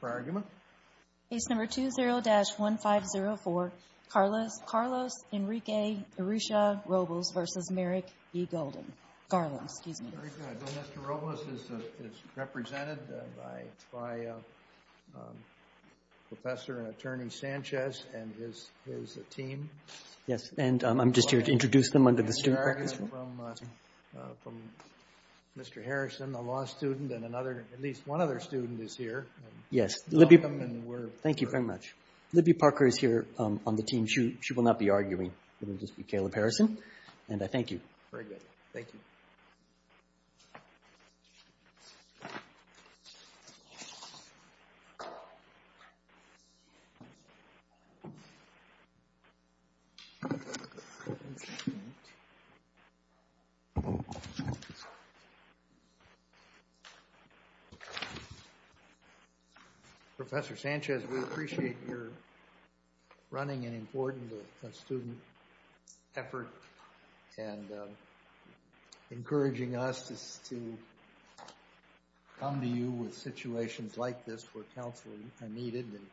Very good. Mr. Robles is represented by Professor and Attorney Sanchez and his team. Yes, and I'm just here to introduce them under the student... From Mr. Harrison, a law student, and another, at least one other student is here. Yes, Libby... Thank you very much. Libby Parker is here on the team. She will not be arguing. It will just be Caleb Harrison, and I thank you. Very good. Thank you. Professor Sanchez, we appreciate your running and important student effort, and encouraging us to come to you with situations like this where counseling is needed. And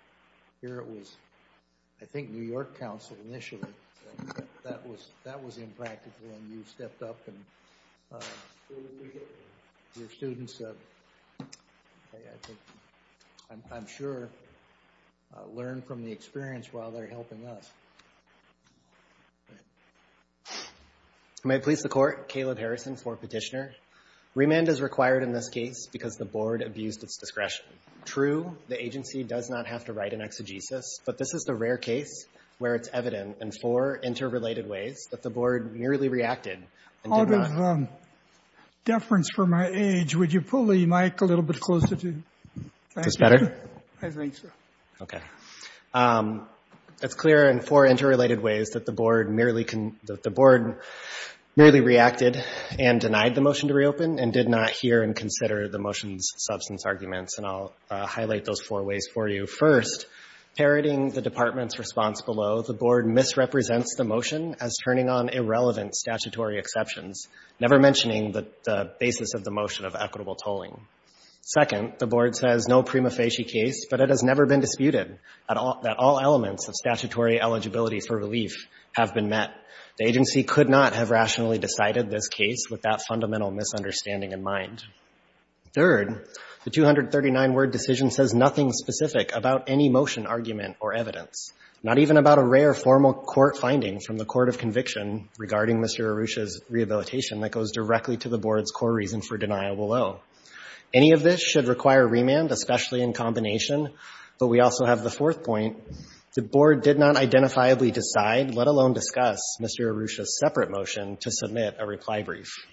here it was, I think, New York Council initially. That was impractical, and you stepped up and your students, I'm sure, learn from the experience while they're helping us. May it please the Court, Caleb Harrison for Petitioner. Remand is required in this case because the Board abused its discretion. True, the agency does not have to write an exegesis, but this is the rare case where it's evident in four interrelated ways that the Board nearly reacted and did not... Out of deference for my age, would you pull the mic a little bit closer to... Is this better? I think so. Okay. It's clear in four interrelated ways that the Board merely reacted and denied the motion to reopen, and did not hear and consider the motion's substance arguments, and I'll highlight those four ways for you. First, parroting the Department's response below, the Board misrepresents the motion as turning on irrelevant statutory exceptions, never mentioning the basis of the motion of equitable tolling. Second, the Board says no prima facie case, but it has never been disputed that all elements of statutory eligibility for relief have been met. The agency could not have rationally decided this case with that fundamental misunderstanding in mind. Third, the 239-word decision says nothing specific about any motion argument or evidence, not even about a rare formal court finding from the Court of Conviction regarding Mr. Arusha's rehabilitation that goes directly to the Board's core reason for denial below. Any of this should require remand, especially in combination. But we also have the fourth point. The Board did not identifiably decide, let alone discuss, Mr. Arusha's separate motion to submit a reply brief.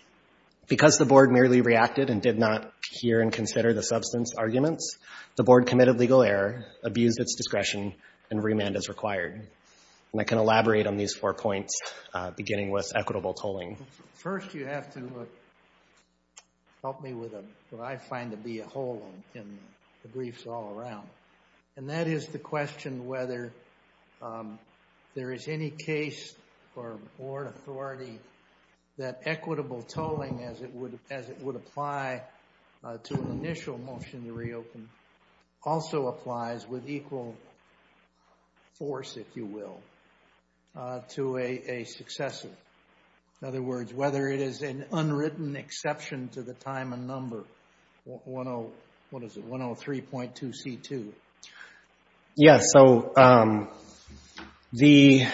Because the Board merely reacted and did not hear and consider the substance arguments, the Board committed legal error, abused its discretion, and remand is required. And I can elaborate on these four points, beginning with equitable tolling. First, you have to help me with what I find to be a hole in the briefs all around. And that is the question whether there is any case for Board authority that equitable tolling, as it would apply to an initial motion to reopen, also applies with equal force, if you will, to a successor. In other words, whether it is an unwritten exception to the time and number, 103.2c2. Yes. So the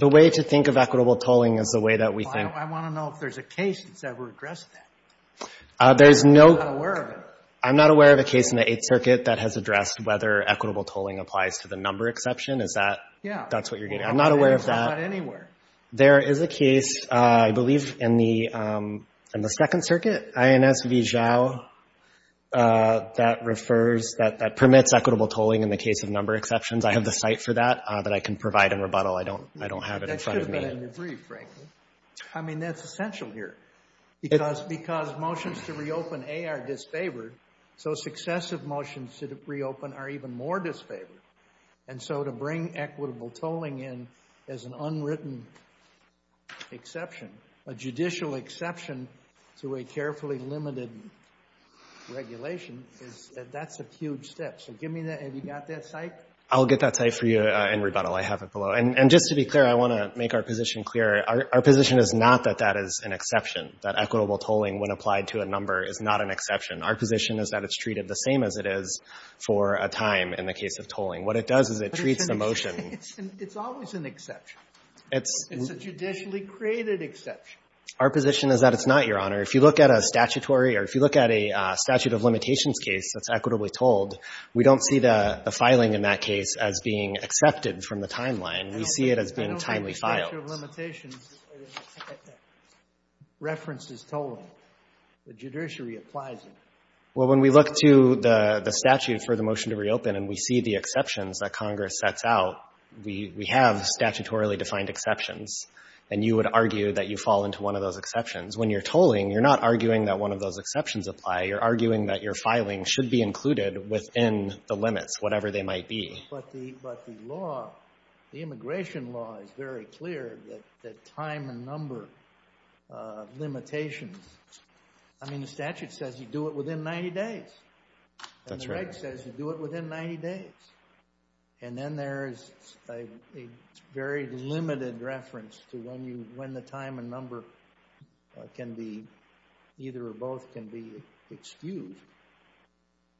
way to think of equitable tolling is the way that we think. I want to know if there's a case that's ever addressed that. I'm not aware of it. I'm not aware of a case in the Eighth Circuit that has addressed whether equitable tolling applies to the number exception. Is that what you're getting at? I'm not aware of that. Not anywhere. There is a case, I believe, in the Second Circuit, INS v. Zhao, that refers, that permits equitable tolling in the case of number exceptions. I have the cite for that that I can provide in rebuttal. I don't have it in front of me. That should have been in the brief, frankly. I mean, that's essential here. Because motions to reopen A are disfavored, so successive motions to reopen are even more disfavored. And so to bring equitable tolling in as an unwritten exception, a judicial exception to a carefully limited regulation, that's a huge step. So give me that. Have you got that cite? I'll get that cite for you in rebuttal. I have it below. And just to be clear, I want to make our position clear. Our position is not that that is an exception, that equitable tolling when applied to a number is not an exception. Our position is that it's treated the same as it is for a time in the case of tolling. What it does is it treats the motion. It's always an exception. It's a judicially created exception. Our position is that it's not, Your Honor. If you look at a statutory or if you look at a statute of limitations case that's equitably tolled, we don't see the filing in that case as being accepted from the timeline. We see it as being timely filed. The statute of limitations references tolling. The judiciary applies it. Well, when we look to the statute for the motion to reopen and we see the exceptions that Congress sets out, we have statutorily defined exceptions. And you would argue that you fall into one of those exceptions. When you're tolling, you're not arguing that one of those exceptions apply. You're arguing that your filing should be included within the limits, whatever they might be. But the law, the immigration law is very clear that time and number limitations. I mean, the statute says you do it within 90 days. That's right. And the reg says you do it within 90 days. And then there is a very limited reference to when the time and number can be,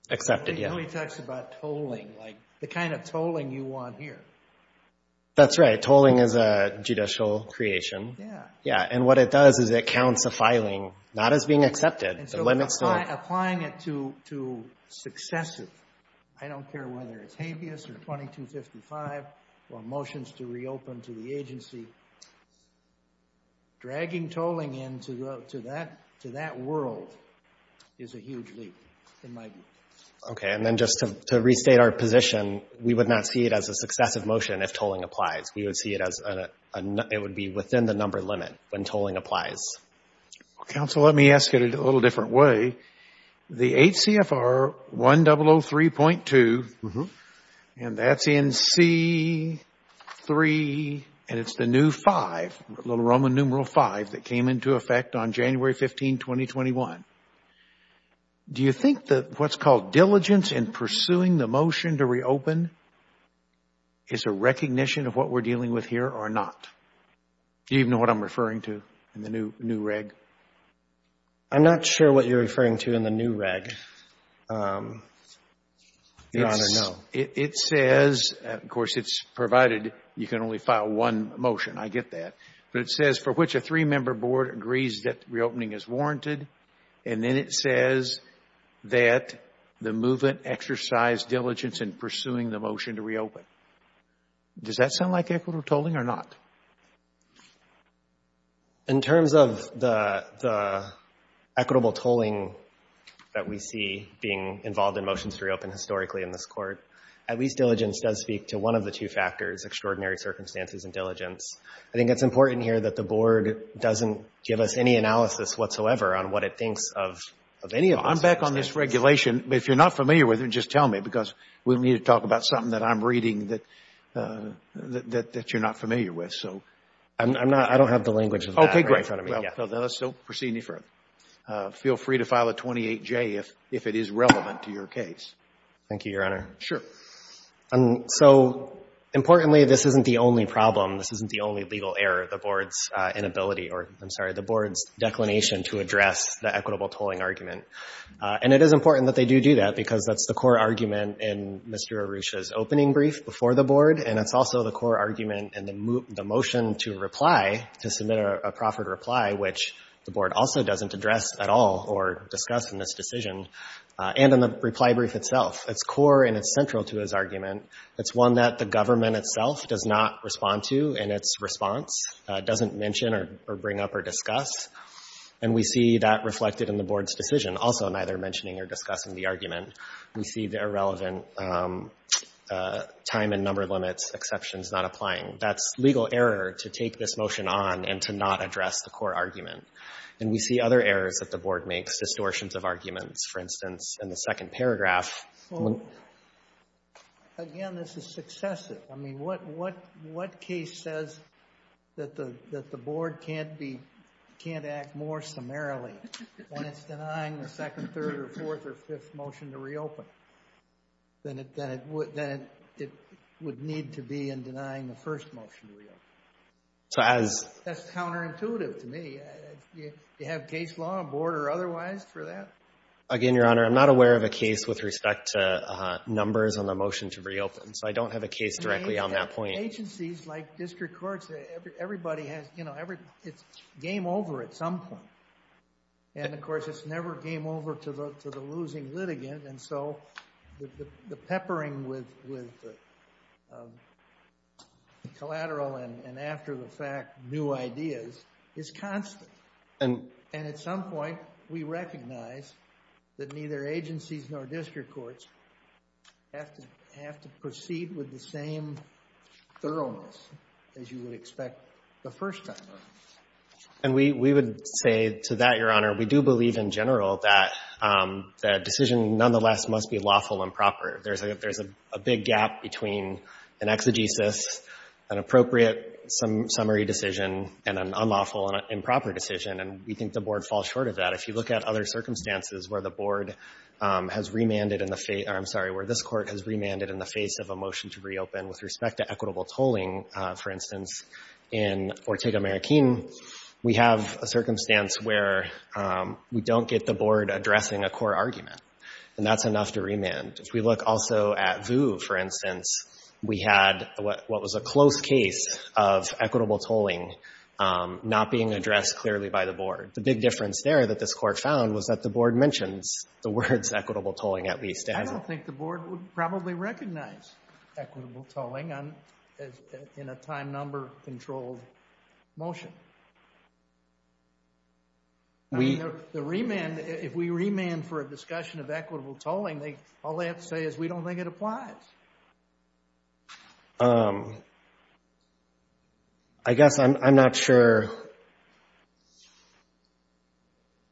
Accepted, yeah. It really talks about tolling, like the kind of tolling you want here. That's right. Tolling is a judicial creation. Yeah. Yeah. And what it does is it counts the filing not as being accepted. And so applying it to successive, I don't care whether it's habeas or 2255 or motions to reopen to the agency, dragging tolling into that world is a huge leap in my view. Okay. And then just to restate our position, we would not see it as a successive motion if tolling applies. We would see it as a, it would be within the number limit when tolling applies. Counsel, let me ask it a little different way. The 8 CFR 1003.2, and that's in C3, and it's the new 5, little Roman numeral 5 that came into effect on January 15, 2021. Do you think that what's called diligence in pursuing the motion to reopen is a recognition of what we're dealing with here or not? Do you even know what I'm referring to in the new reg? I'm not sure what you're referring to in the new reg, Your Honor, no. It says, of course, it's provided you can only file one motion. I get that. But it says for which a three-member board agrees that reopening is warranted, and then it says that the movement exercised diligence in pursuing the motion to reopen. Does that sound like equitable tolling or not? In terms of the equitable tolling that we see being involved in motions to reopen historically in this Court, at least diligence does speak to one of the two factors, extraordinary circumstances and diligence. I think it's important here that the board doesn't give us any analysis whatsoever on what it thinks of any of those circumstances. I'm back on this regulation. If you're not familiar with it, just tell me, because we need to talk about something that I'm reading that you're not familiar with. I don't have the language of that right in front of me. Okay, great. Let's proceed any further. Feel free to file a 28J if it is relevant to your case. Thank you, Your Honor. Sure. So, importantly, this isn't the only problem. This isn't the only legal error, the board's inability or, I'm sorry, the board's declination to address the equitable tolling argument. And it is important that they do do that because that's the core argument in Mr. Arusha's opening brief before the board, and it's also the core argument in the motion to reply, to submit a proffered reply, which the board also doesn't address at all or discuss in this decision, and in the reply brief itself. It's core and it's central to his argument. It's one that the government itself does not respond to in its response, doesn't mention or bring up or discuss, and we see that reflected in the board's decision, also neither mentioning or discussing the argument. We see the irrelevant time and number limits, exceptions not applying. That's legal error to take this motion on and to not address the core argument. And we see other errors that the board makes, distortions of arguments, for instance, in the second paragraph. So, again, this is successive. I mean, what case says that the board can't act more summarily when it's denying the second, third, or fourth, or fifth motion to reopen than it would need to be in denying the first motion to reopen? That's counterintuitive to me. Do you have case law on board or otherwise for that? Again, Your Honor, I'm not aware of a case with respect to numbers on the motion to reopen, so I don't have a case directly on that point. Agencies like district courts, everybody has, you know, it's game over at some point. And, of course, it's never game over to the losing litigant, and so the peppering with collateral and after the fact new ideas is constant. And at some point, we recognize that neither agencies nor district courts have to proceed with the same thoroughness as you would expect the first time around. And we would say to that, Your Honor, we do believe in general that the decision, nonetheless, must be lawful and proper. There's a big gap between an exegesis, an appropriate summary decision, and an unlawful and improper decision, and we think the board falls short of that. If you look at other circumstances where the board has remanded in the face of a motion to reopen with respect to equitable tolling, for instance, in Ortega-Marroquin, we have a circumstance where we don't get the board addressing a core argument, and that's enough to remand. If we look also at Vu, for instance, we had what was a close case of equitable tolling not being addressed clearly by the board. The big difference there that this court found was that the board mentions the words equitable tolling at least. I don't think the board would probably recognize equitable tolling in a time number controlled motion. The remand, if we remand for a discussion of equitable tolling, all they have to say is we don't think it applies. I guess I'm not sure.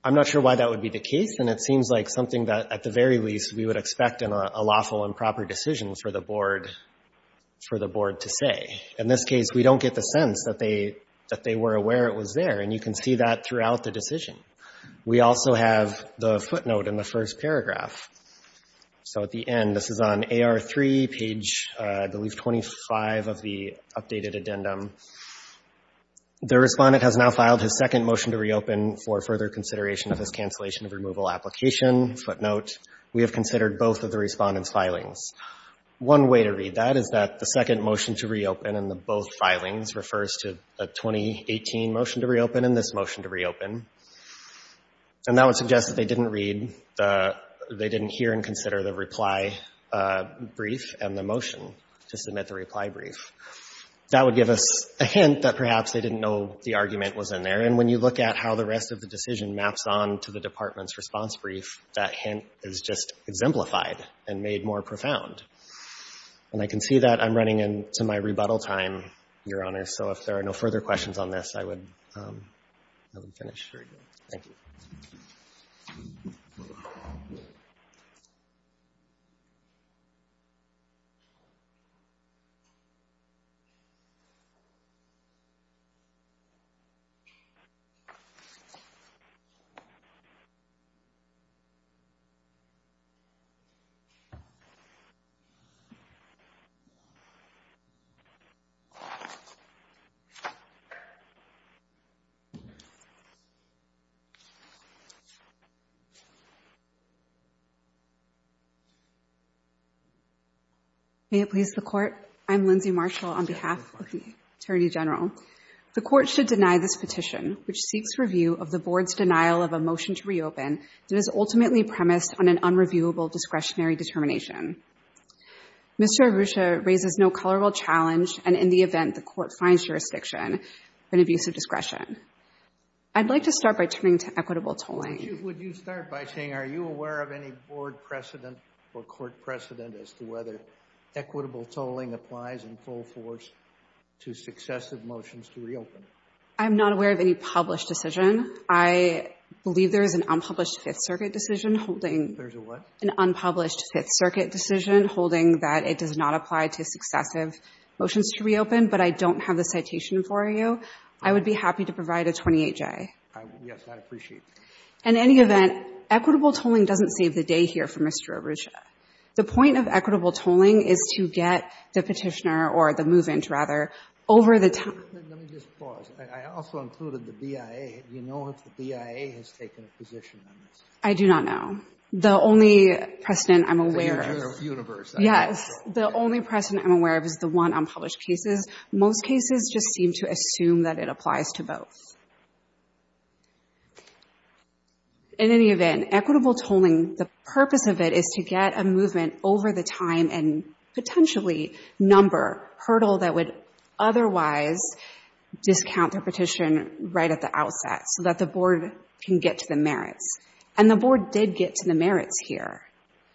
I'm not sure why that would be the case, and it seems like something that, at the very least, we would expect in a lawful and proper decision for the board to say. In this case, we don't get the sense that they were aware it was there, and you can see that throughout the decision. We also have the footnote in the first paragraph. So at the end, this is on AR3, page, I believe, 25 of the updated addendum. The respondent has now filed his second motion to reopen for further consideration of his cancellation of removal application. Footnote, we have considered both of the respondent's filings. One way to read that is that the second motion to reopen in both filings refers to a 2018 motion to reopen and this motion to reopen, and that would suggest that they didn't read, they didn't hear and consider the reply brief and the motion to submit the reply brief. That would give us a hint that perhaps they didn't know the argument was in there, and when you look at how the rest of the decision maps on to the department's response brief, that hint is just exemplified and made more profound. And I can see that I'm running into my rebuttal time, Your Honor, so if there are no further questions on this, I would finish. Thank you. May it please the Court. I'm Lindsay Marshall on behalf of the Attorney General. The Court should deny this petition, which seeks review of the Board's denial of a motion to reopen that is ultimately premised on an unreviewable discretionary determination. Mr. Arusha raises no colorable challenge, and in the event the Court finds jurisdiction, an abuse of discretion. I'd like to start by turning to equitable tolling. Would you start by saying, are you aware of any Board precedent or Court precedent as to whether equitable tolling applies in full force to successive motions to reopen? I'm not aware of any published decision. I believe there is an unpublished Fifth Circuit decision holding There's a what? that it does not apply to successive motions to reopen, but I don't have the citation for you. I would be happy to provide a 28-J. Yes, I'd appreciate that. In any event, equitable tolling doesn't save the day here for Mr. Arusha. The point of equitable tolling is to get the Petitioner, or the move-in, rather, over the time. Let me just pause. I also included the BIA. Do you know if the BIA has taken a position on this? I do not know. The only precedent I'm aware of is the one on published cases. Most cases just seem to assume that it applies to both. In any event, equitable tolling, the purpose of it is to get a movement over the time and potentially number a hurdle that would otherwise discount their petition right at the outset so that the Board can get to the merits. And the Board did get to the merits here.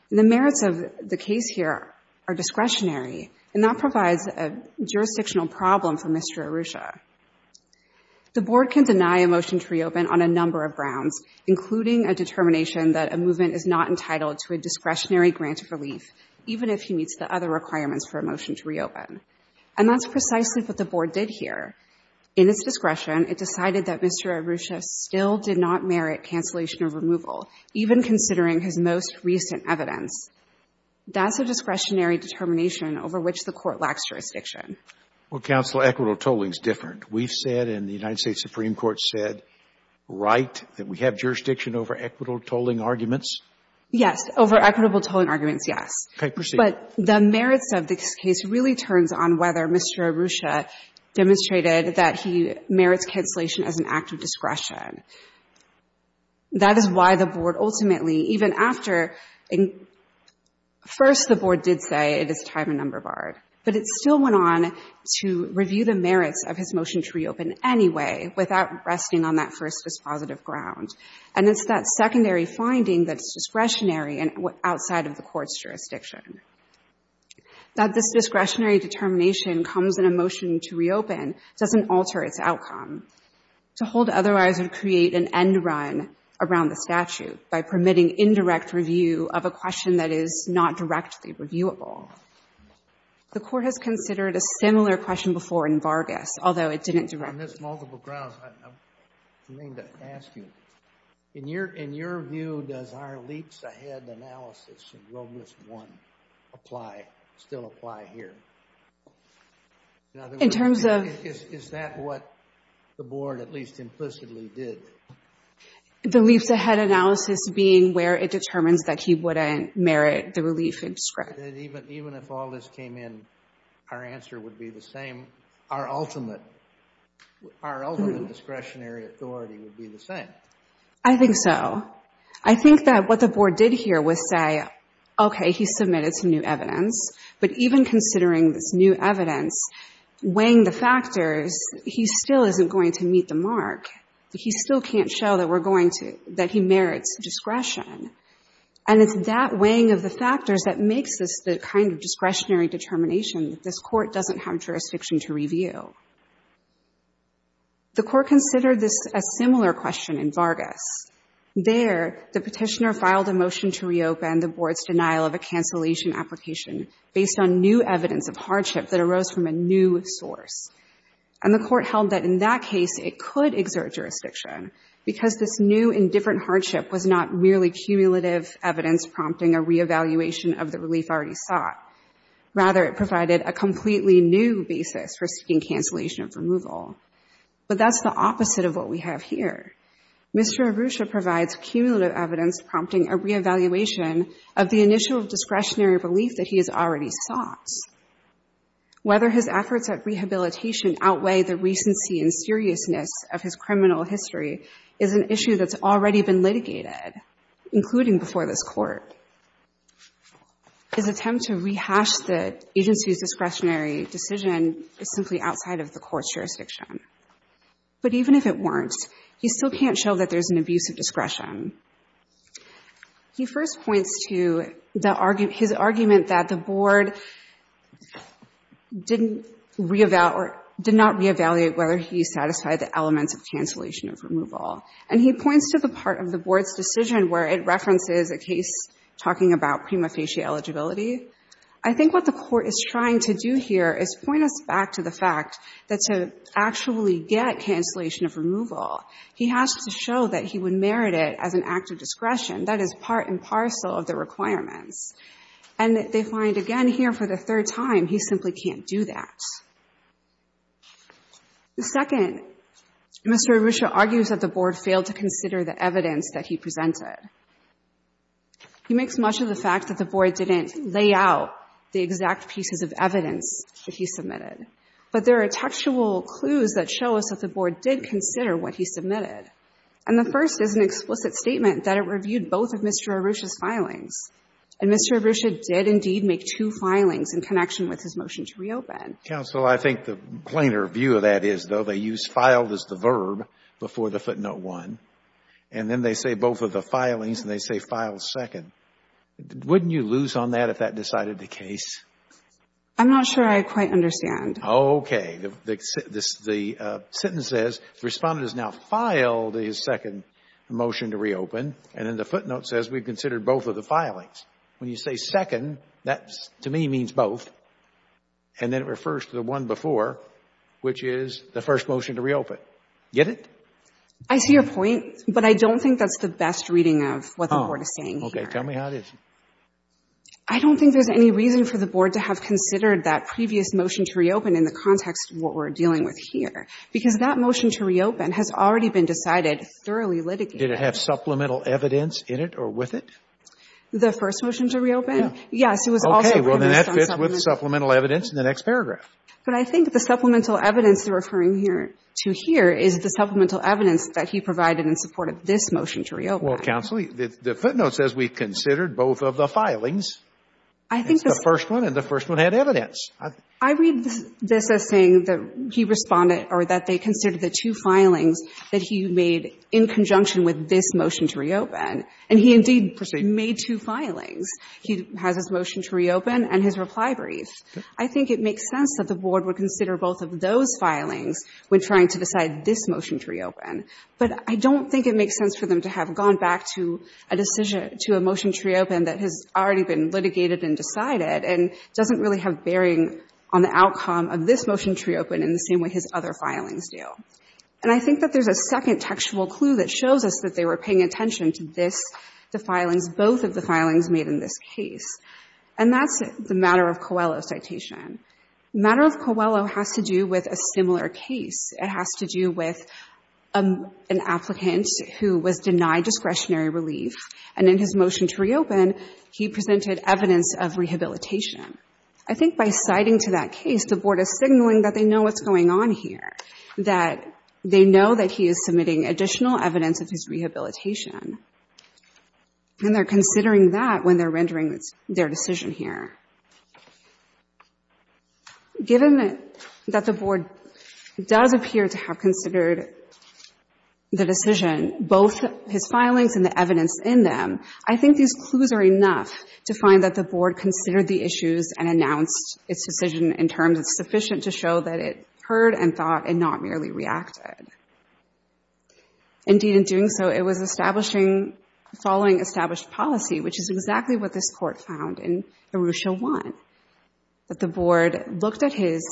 The merits of the case here are discretionary, and that provides a jurisdictional problem for Mr. Arusha. The Board can deny a motion to reopen on a number of grounds, including a determination that a movement is not entitled to a discretionary grant of relief, even if he meets the other requirements for a motion to reopen. And that's precisely what the Board did here. In its discretion, it decided that Mr. Arusha still did not merit cancellation of removal, even considering his most recent evidence. That's a discretionary determination over which the Court lacks jurisdiction. Well, Counsel, equitable tolling is different. We've said and the United States Supreme Court said, right, that we have jurisdiction over equitable tolling arguments. Yes. Over equitable tolling arguments, yes. Okay. Proceed. But the merits of this case really turns on whether Mr. Arusha demonstrated that he merits cancellation as an act of discretion. That is why the Board ultimately, even after — first, the Board did say it is time and number barred. But it still went on to review the merits of his motion to reopen anyway, without resting on that first dispositive ground. And it's that secondary finding that's discretionary and outside of the Court's jurisdiction. That this discretionary determination comes in a motion to reopen doesn't alter its outcome. To hold otherwise would create an end run around the statute by permitting indirect review of a question that is not directly reviewable. The Court has considered a similar question before in Vargas, although it didn't directly review it. On this multiple grounds, I mean to ask you, in your view, does our leaps-ahead analysis in Road List 1 apply, still apply here? In terms of — Is that what the Board at least implicitly did? The leaps-ahead analysis being where it determines that he wouldn't merit the relief and discretion. Even if all this came in, our answer would be the same. Our ultimate discretionary authority would be the same. I think so. I think that what the Board did here was say, okay, he submitted some new evidence, but even considering this new evidence, weighing the factors, he still isn't going to meet the mark. He still can't show that we're going to — that he merits discretion. And it's that weighing of the factors that makes this the kind of discretionary determination that this Court doesn't have jurisdiction to review. The Court considered this — a similar question in Vargas. There, the petitioner filed a motion to reopen the Board's denial of a cancellation application based on new evidence of hardship that arose from a new source. And the Court held that in that case, it could exert jurisdiction because this new and different hardship was not merely cumulative evidence prompting a reevaluation of the relief already sought. Rather, it provided a completely new basis for seeking cancellation of removal. But that's the opposite of what we have here. Mr. Arusha provides cumulative evidence prompting a reevaluation of the initial discretionary relief that he has already sought. Whether his efforts at rehabilitation outweigh the recency and seriousness of his criminal history is an issue that's already been litigated, including before this Court. His attempt to rehash the agency's discretionary decision is simply outside of the Court's jurisdiction. But even if it weren't, he still can't show that there's an abuse of discretion. He first points to the — his argument that the Board didn't reevaluate — or did not reevaluate whether he satisfied the elements of cancellation of removal. And he points to the part of the Board's decision where it references a case talking about prima facie eligibility. I think what the Court is trying to do here is point us back to the fact that to actually get cancellation of removal, he has to show that he would merit it as an act of discretion. That is part and parcel of the requirements. And they find, again, here for the third time, he simply can't do that. The second, Mr. Arusha argues that the Board failed to consider the evidence that he presented. He makes much of the fact that the Board didn't lay out the exact pieces of evidence that he submitted. But there are textual clues that show us that the Board did consider what he submitted. And the first is an explicit statement that it reviewed both of Mr. Arusha's filings. And Mr. Arusha did indeed make two filings in connection with his motion to reopen. Counsel, I think the plainer view of that is, though, they use filed as the verb before the footnote 1. And then they say both of the filings, and they say filed second. Wouldn't you lose on that if that decided the case? I'm not sure I quite understand. Okay. The sentence says the Respondent has now filed his second motion to reopen. And then the footnote says we've considered both of the filings. When you say second, that to me means both. And then it refers to the one before, which is the first motion to reopen. Get it? I see your point. But I don't think that's the best reading of what the Board is saying here. Okay. Tell me how it is. I don't think there's any reason for the Board to have considered that previous motion to reopen in the context of what we're dealing with here. Because that motion to reopen has already been decided, thoroughly litigated. Did it have supplemental evidence in it or with it? The first motion to reopen? Yes. Okay. Well, then that fits with supplemental evidence in the next paragraph. But I think the supplemental evidence they're referring here to here is the supplemental evidence that he provided in support of this motion to reopen. Well, Counsel, the footnote says we've considered both of the filings. I think the first one and the first one had evidence. I read this as saying that he responded or that they considered the two filings that he made in conjunction with this motion to reopen. And he indeed made two filings. He has his motion to reopen and his reply brief. I think it makes sense that the Board would consider both of those filings when trying to decide this motion to reopen. But I don't think it makes sense for them to have gone back to a decision, to a motion to reopen that has already been litigated and decided and doesn't really have bearing on the outcome of this motion to reopen in the same way his other filings do. And I think that there's a second textual clue that shows us that they were paying attention to this, the filings, both of the filings made in this case. And that's the Matter of Coelho citation. Matter of Coelho has to do with a similar case. It has to do with an applicant who was denied discretionary relief. And in his motion to reopen, he presented evidence of rehabilitation. I think by citing to that case, the Board is signaling that they know what's going on here, that they know that he is submitting additional evidence of his rehabilitation. And they're considering that when they're rendering their decision here. Given that the Board does appear to have considered the decision, both his filings and the evidence in them, I think these clues are enough to find that the Board considered the issues and announced its decision in terms that's sufficient to show that it heard and thought and not merely reacted. Indeed, in doing so, it was establishing, following established policy, which is exactly what this Court found in Arusha 1, that the Board looked at his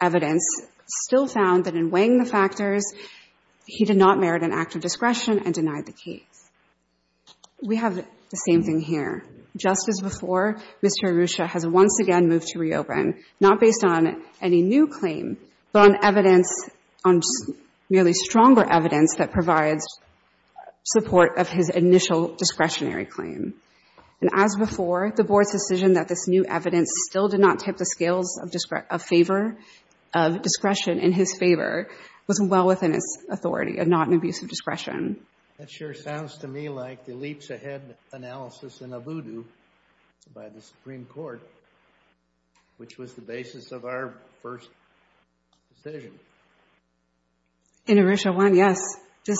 evidence, still found that in weighing the factors, he did not merit an act of discretion and denied the case. We have the same thing here. Just as before, Mr. Arusha has once again moved to reopen, not based on any new claim, but on evidence, on merely stronger evidence that provides support of his initial discretionary claim. And as before, the Board's decision that this new evidence still did not tip the scales of favor, of discretion in his favor, was well within its authority and not an abuse of discretion. That sure sounds to me like the leaps ahead analysis in Voodoo by the Supreme Court, which was the basis of our first decision. In Arusha 1, yes. This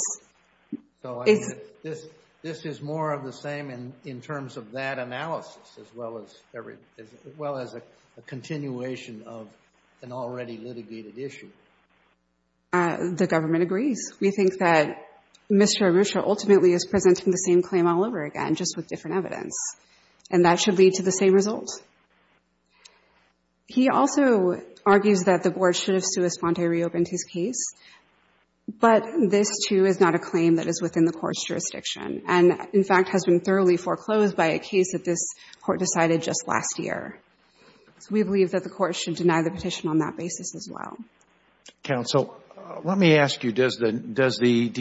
is more of the same in terms of that analysis as well as a continuation of an already litigated issue. The government agrees. We think that Mr. Arusha ultimately is presenting the same claim all over again, just with different evidence. And that should lead to the same result. He also argues that the Board should have sua sponte reopened his case. But this, too, is not a claim that is within the Court's jurisdiction and, in fact, has been thoroughly foreclosed by a case that this Court decided just last year. So we believe that the Court should deny the petition on that basis as well. Counsel, let me ask you, does the, does the, let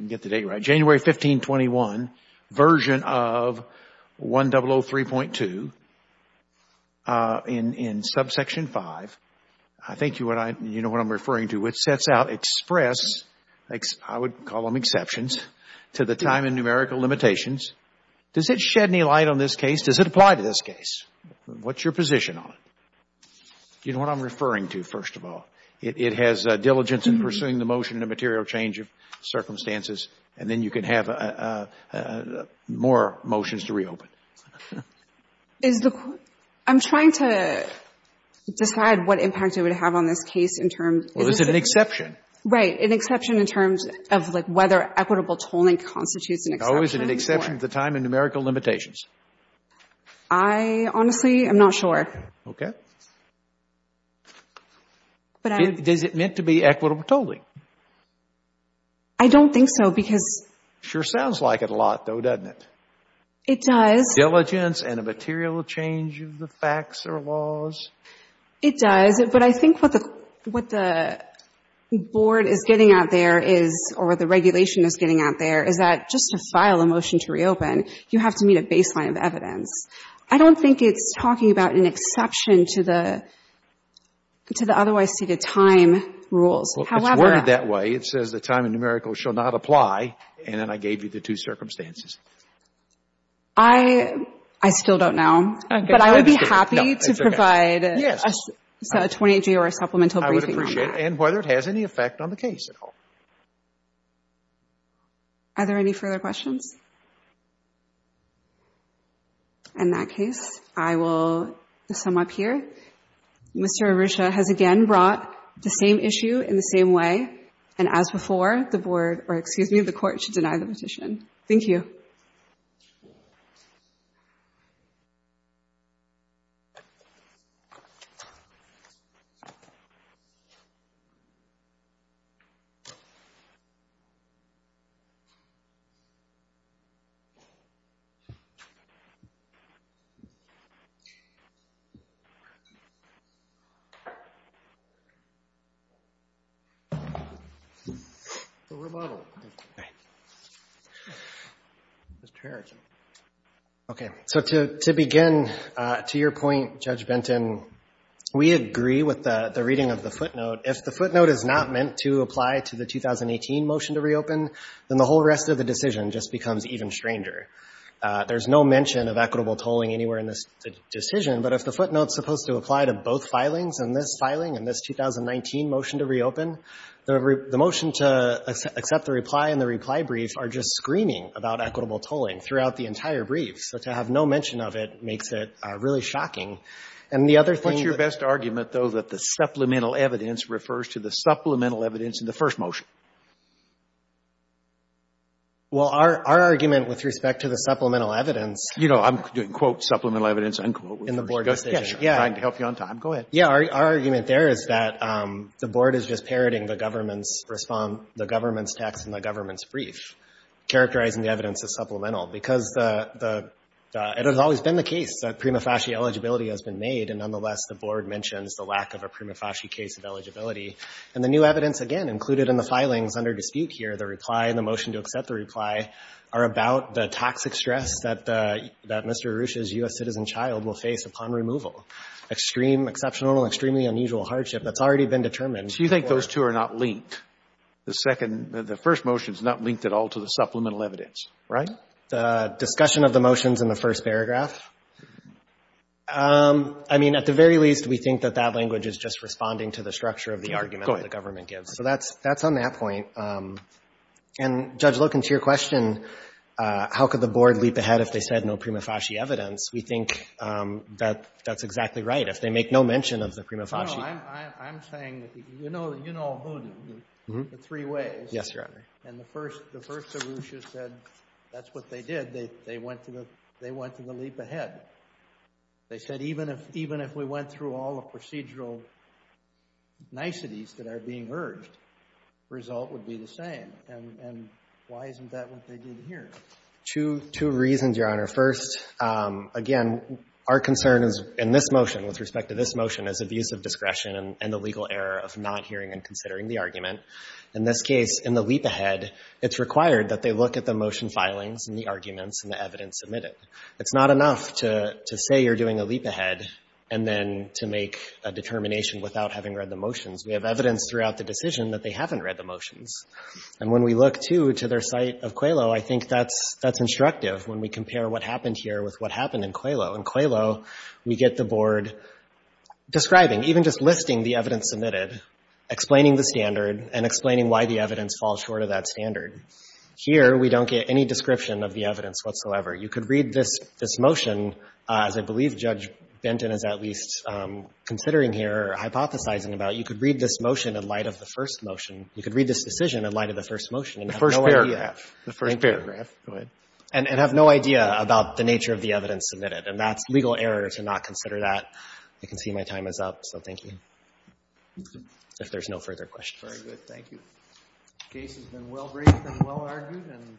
me get the date right, January 1521 version of 1003.2 in subsection 5, I think you know what I'm referring to, which sets out express, I would call them exceptions, to the time and numerical limitations. Does it shed any light on this case? Does it apply to this case? What's your position on it? You know what I'm referring to, first of all. It has diligence in pursuing the motion in a material change of circumstances, and then you can have more motions to reopen. Is the, I'm trying to decide what impact it would have on this case in terms of Well, is it an exception? Right, an exception in terms of, like, whether equitable tolling constitutes an exception or Oh, is it an exception to the time and numerical limitations? I honestly am not sure. Okay. But I'm Is it meant to be equitable tolling? I don't think so, because Sure sounds like it a lot, though, doesn't it? It does. Diligence and a material change of the facts or laws. It does. But I think what the, what the board is getting out there is, or the regulation is getting out there, is that just to file a motion to reopen, you have to meet a baseline of evidence. I don't think it's talking about an exception to the, to the otherwise stated time rules. However It's worded that way. It says the time and numerical shall not apply, and then I gave you the two circumstances. I, I still don't know. Okay. But I would be happy to provide No, that's okay. Yes. A 28-G or a supplemental briefing on that. I would appreciate it, and whether it has any effect on the case at all. Are there any further questions? In that case, I will sum up here. Mr. Arusha has again brought the same issue in the same way, and as before, the board, or excuse me, the court should deny the petition. Thank you. Mr. Harrington. Okay. So to, to begin, to your point, Judge Benton, we agree with the, the reading of the footnote. If the footnote is not meant to apply to the 2018 motion to reopen, then the whole rest of the decision just becomes even stranger. There's no mention of equitable tolling anywhere in this decision, but if the footnote is supposed to apply to both filings, and this filing and this 2019 motion to reopen, the motion to accept the reply and the reply brief are just screaming about equitable tolling throughout the entire brief. So to have no mention of it makes it really shocking. And the other thing What's your best argument, though, that the supplemental evidence refers to the supplemental evidence in the first motion? Well, our, our argument with respect to the supplemental evidence You know, I'm doing, quote, supplemental evidence, unquote. In the board decision. Yeah. I'm trying to help you on time. Go ahead. Yeah. Our, our argument there is that the board is just parroting the government's response, the government's text in the government's brief, characterizing the evidence as supplemental. Because the, the, it has always been the case that prima facie eligibility has been made, and nonetheless, the board mentions the lack of a prima facie case of eligibility. And the new evidence, again, included in the filings under dispute here, the reply and the motion to accept the reply, are about the toxic stress that the, that Mr. Arusha's U.S. citizen child will face upon removal. Extreme, exceptional, extremely unusual hardship that's already been determined So you think those two are not linked? The second, the first motion is not linked at all to the supplemental evidence, right? The discussion of the motions in the first paragraph? I mean, at the very least, we think that that language is just responding to the structure of the argument that the government gives. Go ahead. So that's, that's on that point. And, Judge Lookin, to your question, how could the board leap ahead if they said no prima facie evidence, we think that, that's exactly right. If they make no mention of the prima facie. No, I'm, I'm saying, you know, you know who, the three ways. Yes, Your Honor. And the first, the first Arusha said that's what they did. They, they went to the, they went to the leap ahead. They said even if, even if we went through all the procedural niceties that are being urged, result would be the same. And, and why isn't that what they did here? Two, two reasons, Your Honor. First, again, our concern is in this motion, with respect to this motion, is abusive discretion and the legal error of not hearing and considering the argument. In this case, in the leap ahead, it's required that they look at the motion filings and the arguments and the evidence submitted. It's not enough to, to say you're doing a leap ahead and then to make a determination without having read the motions. We have evidence throughout the decision that they haven't read the motions. And when we look, too, to their site of Qualo, I think that's, that's instructive when we compare what happened here with what happened in Qualo. In Qualo, we get the board describing, even just listing the evidence submitted, explaining the standard, and explaining why the evidence falls short of that standard. Here, we don't get any description of the evidence whatsoever. You could read this, this motion, as I believe Judge Benton is at least considering here, hypothesizing about. You could read this motion in light of the first motion. You could read this decision in light of the first motion and have no idea. And have no idea about the nature of the evidence submitted. And that's legal error to not consider that. I can see my time is up, so thank you. If there's no further questions. Very good, thank you. The case has been well-briefed and well-argued and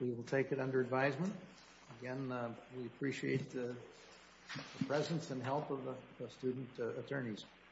we will take it under advisement. Again, we appreciate the presence and help of the student attorneys.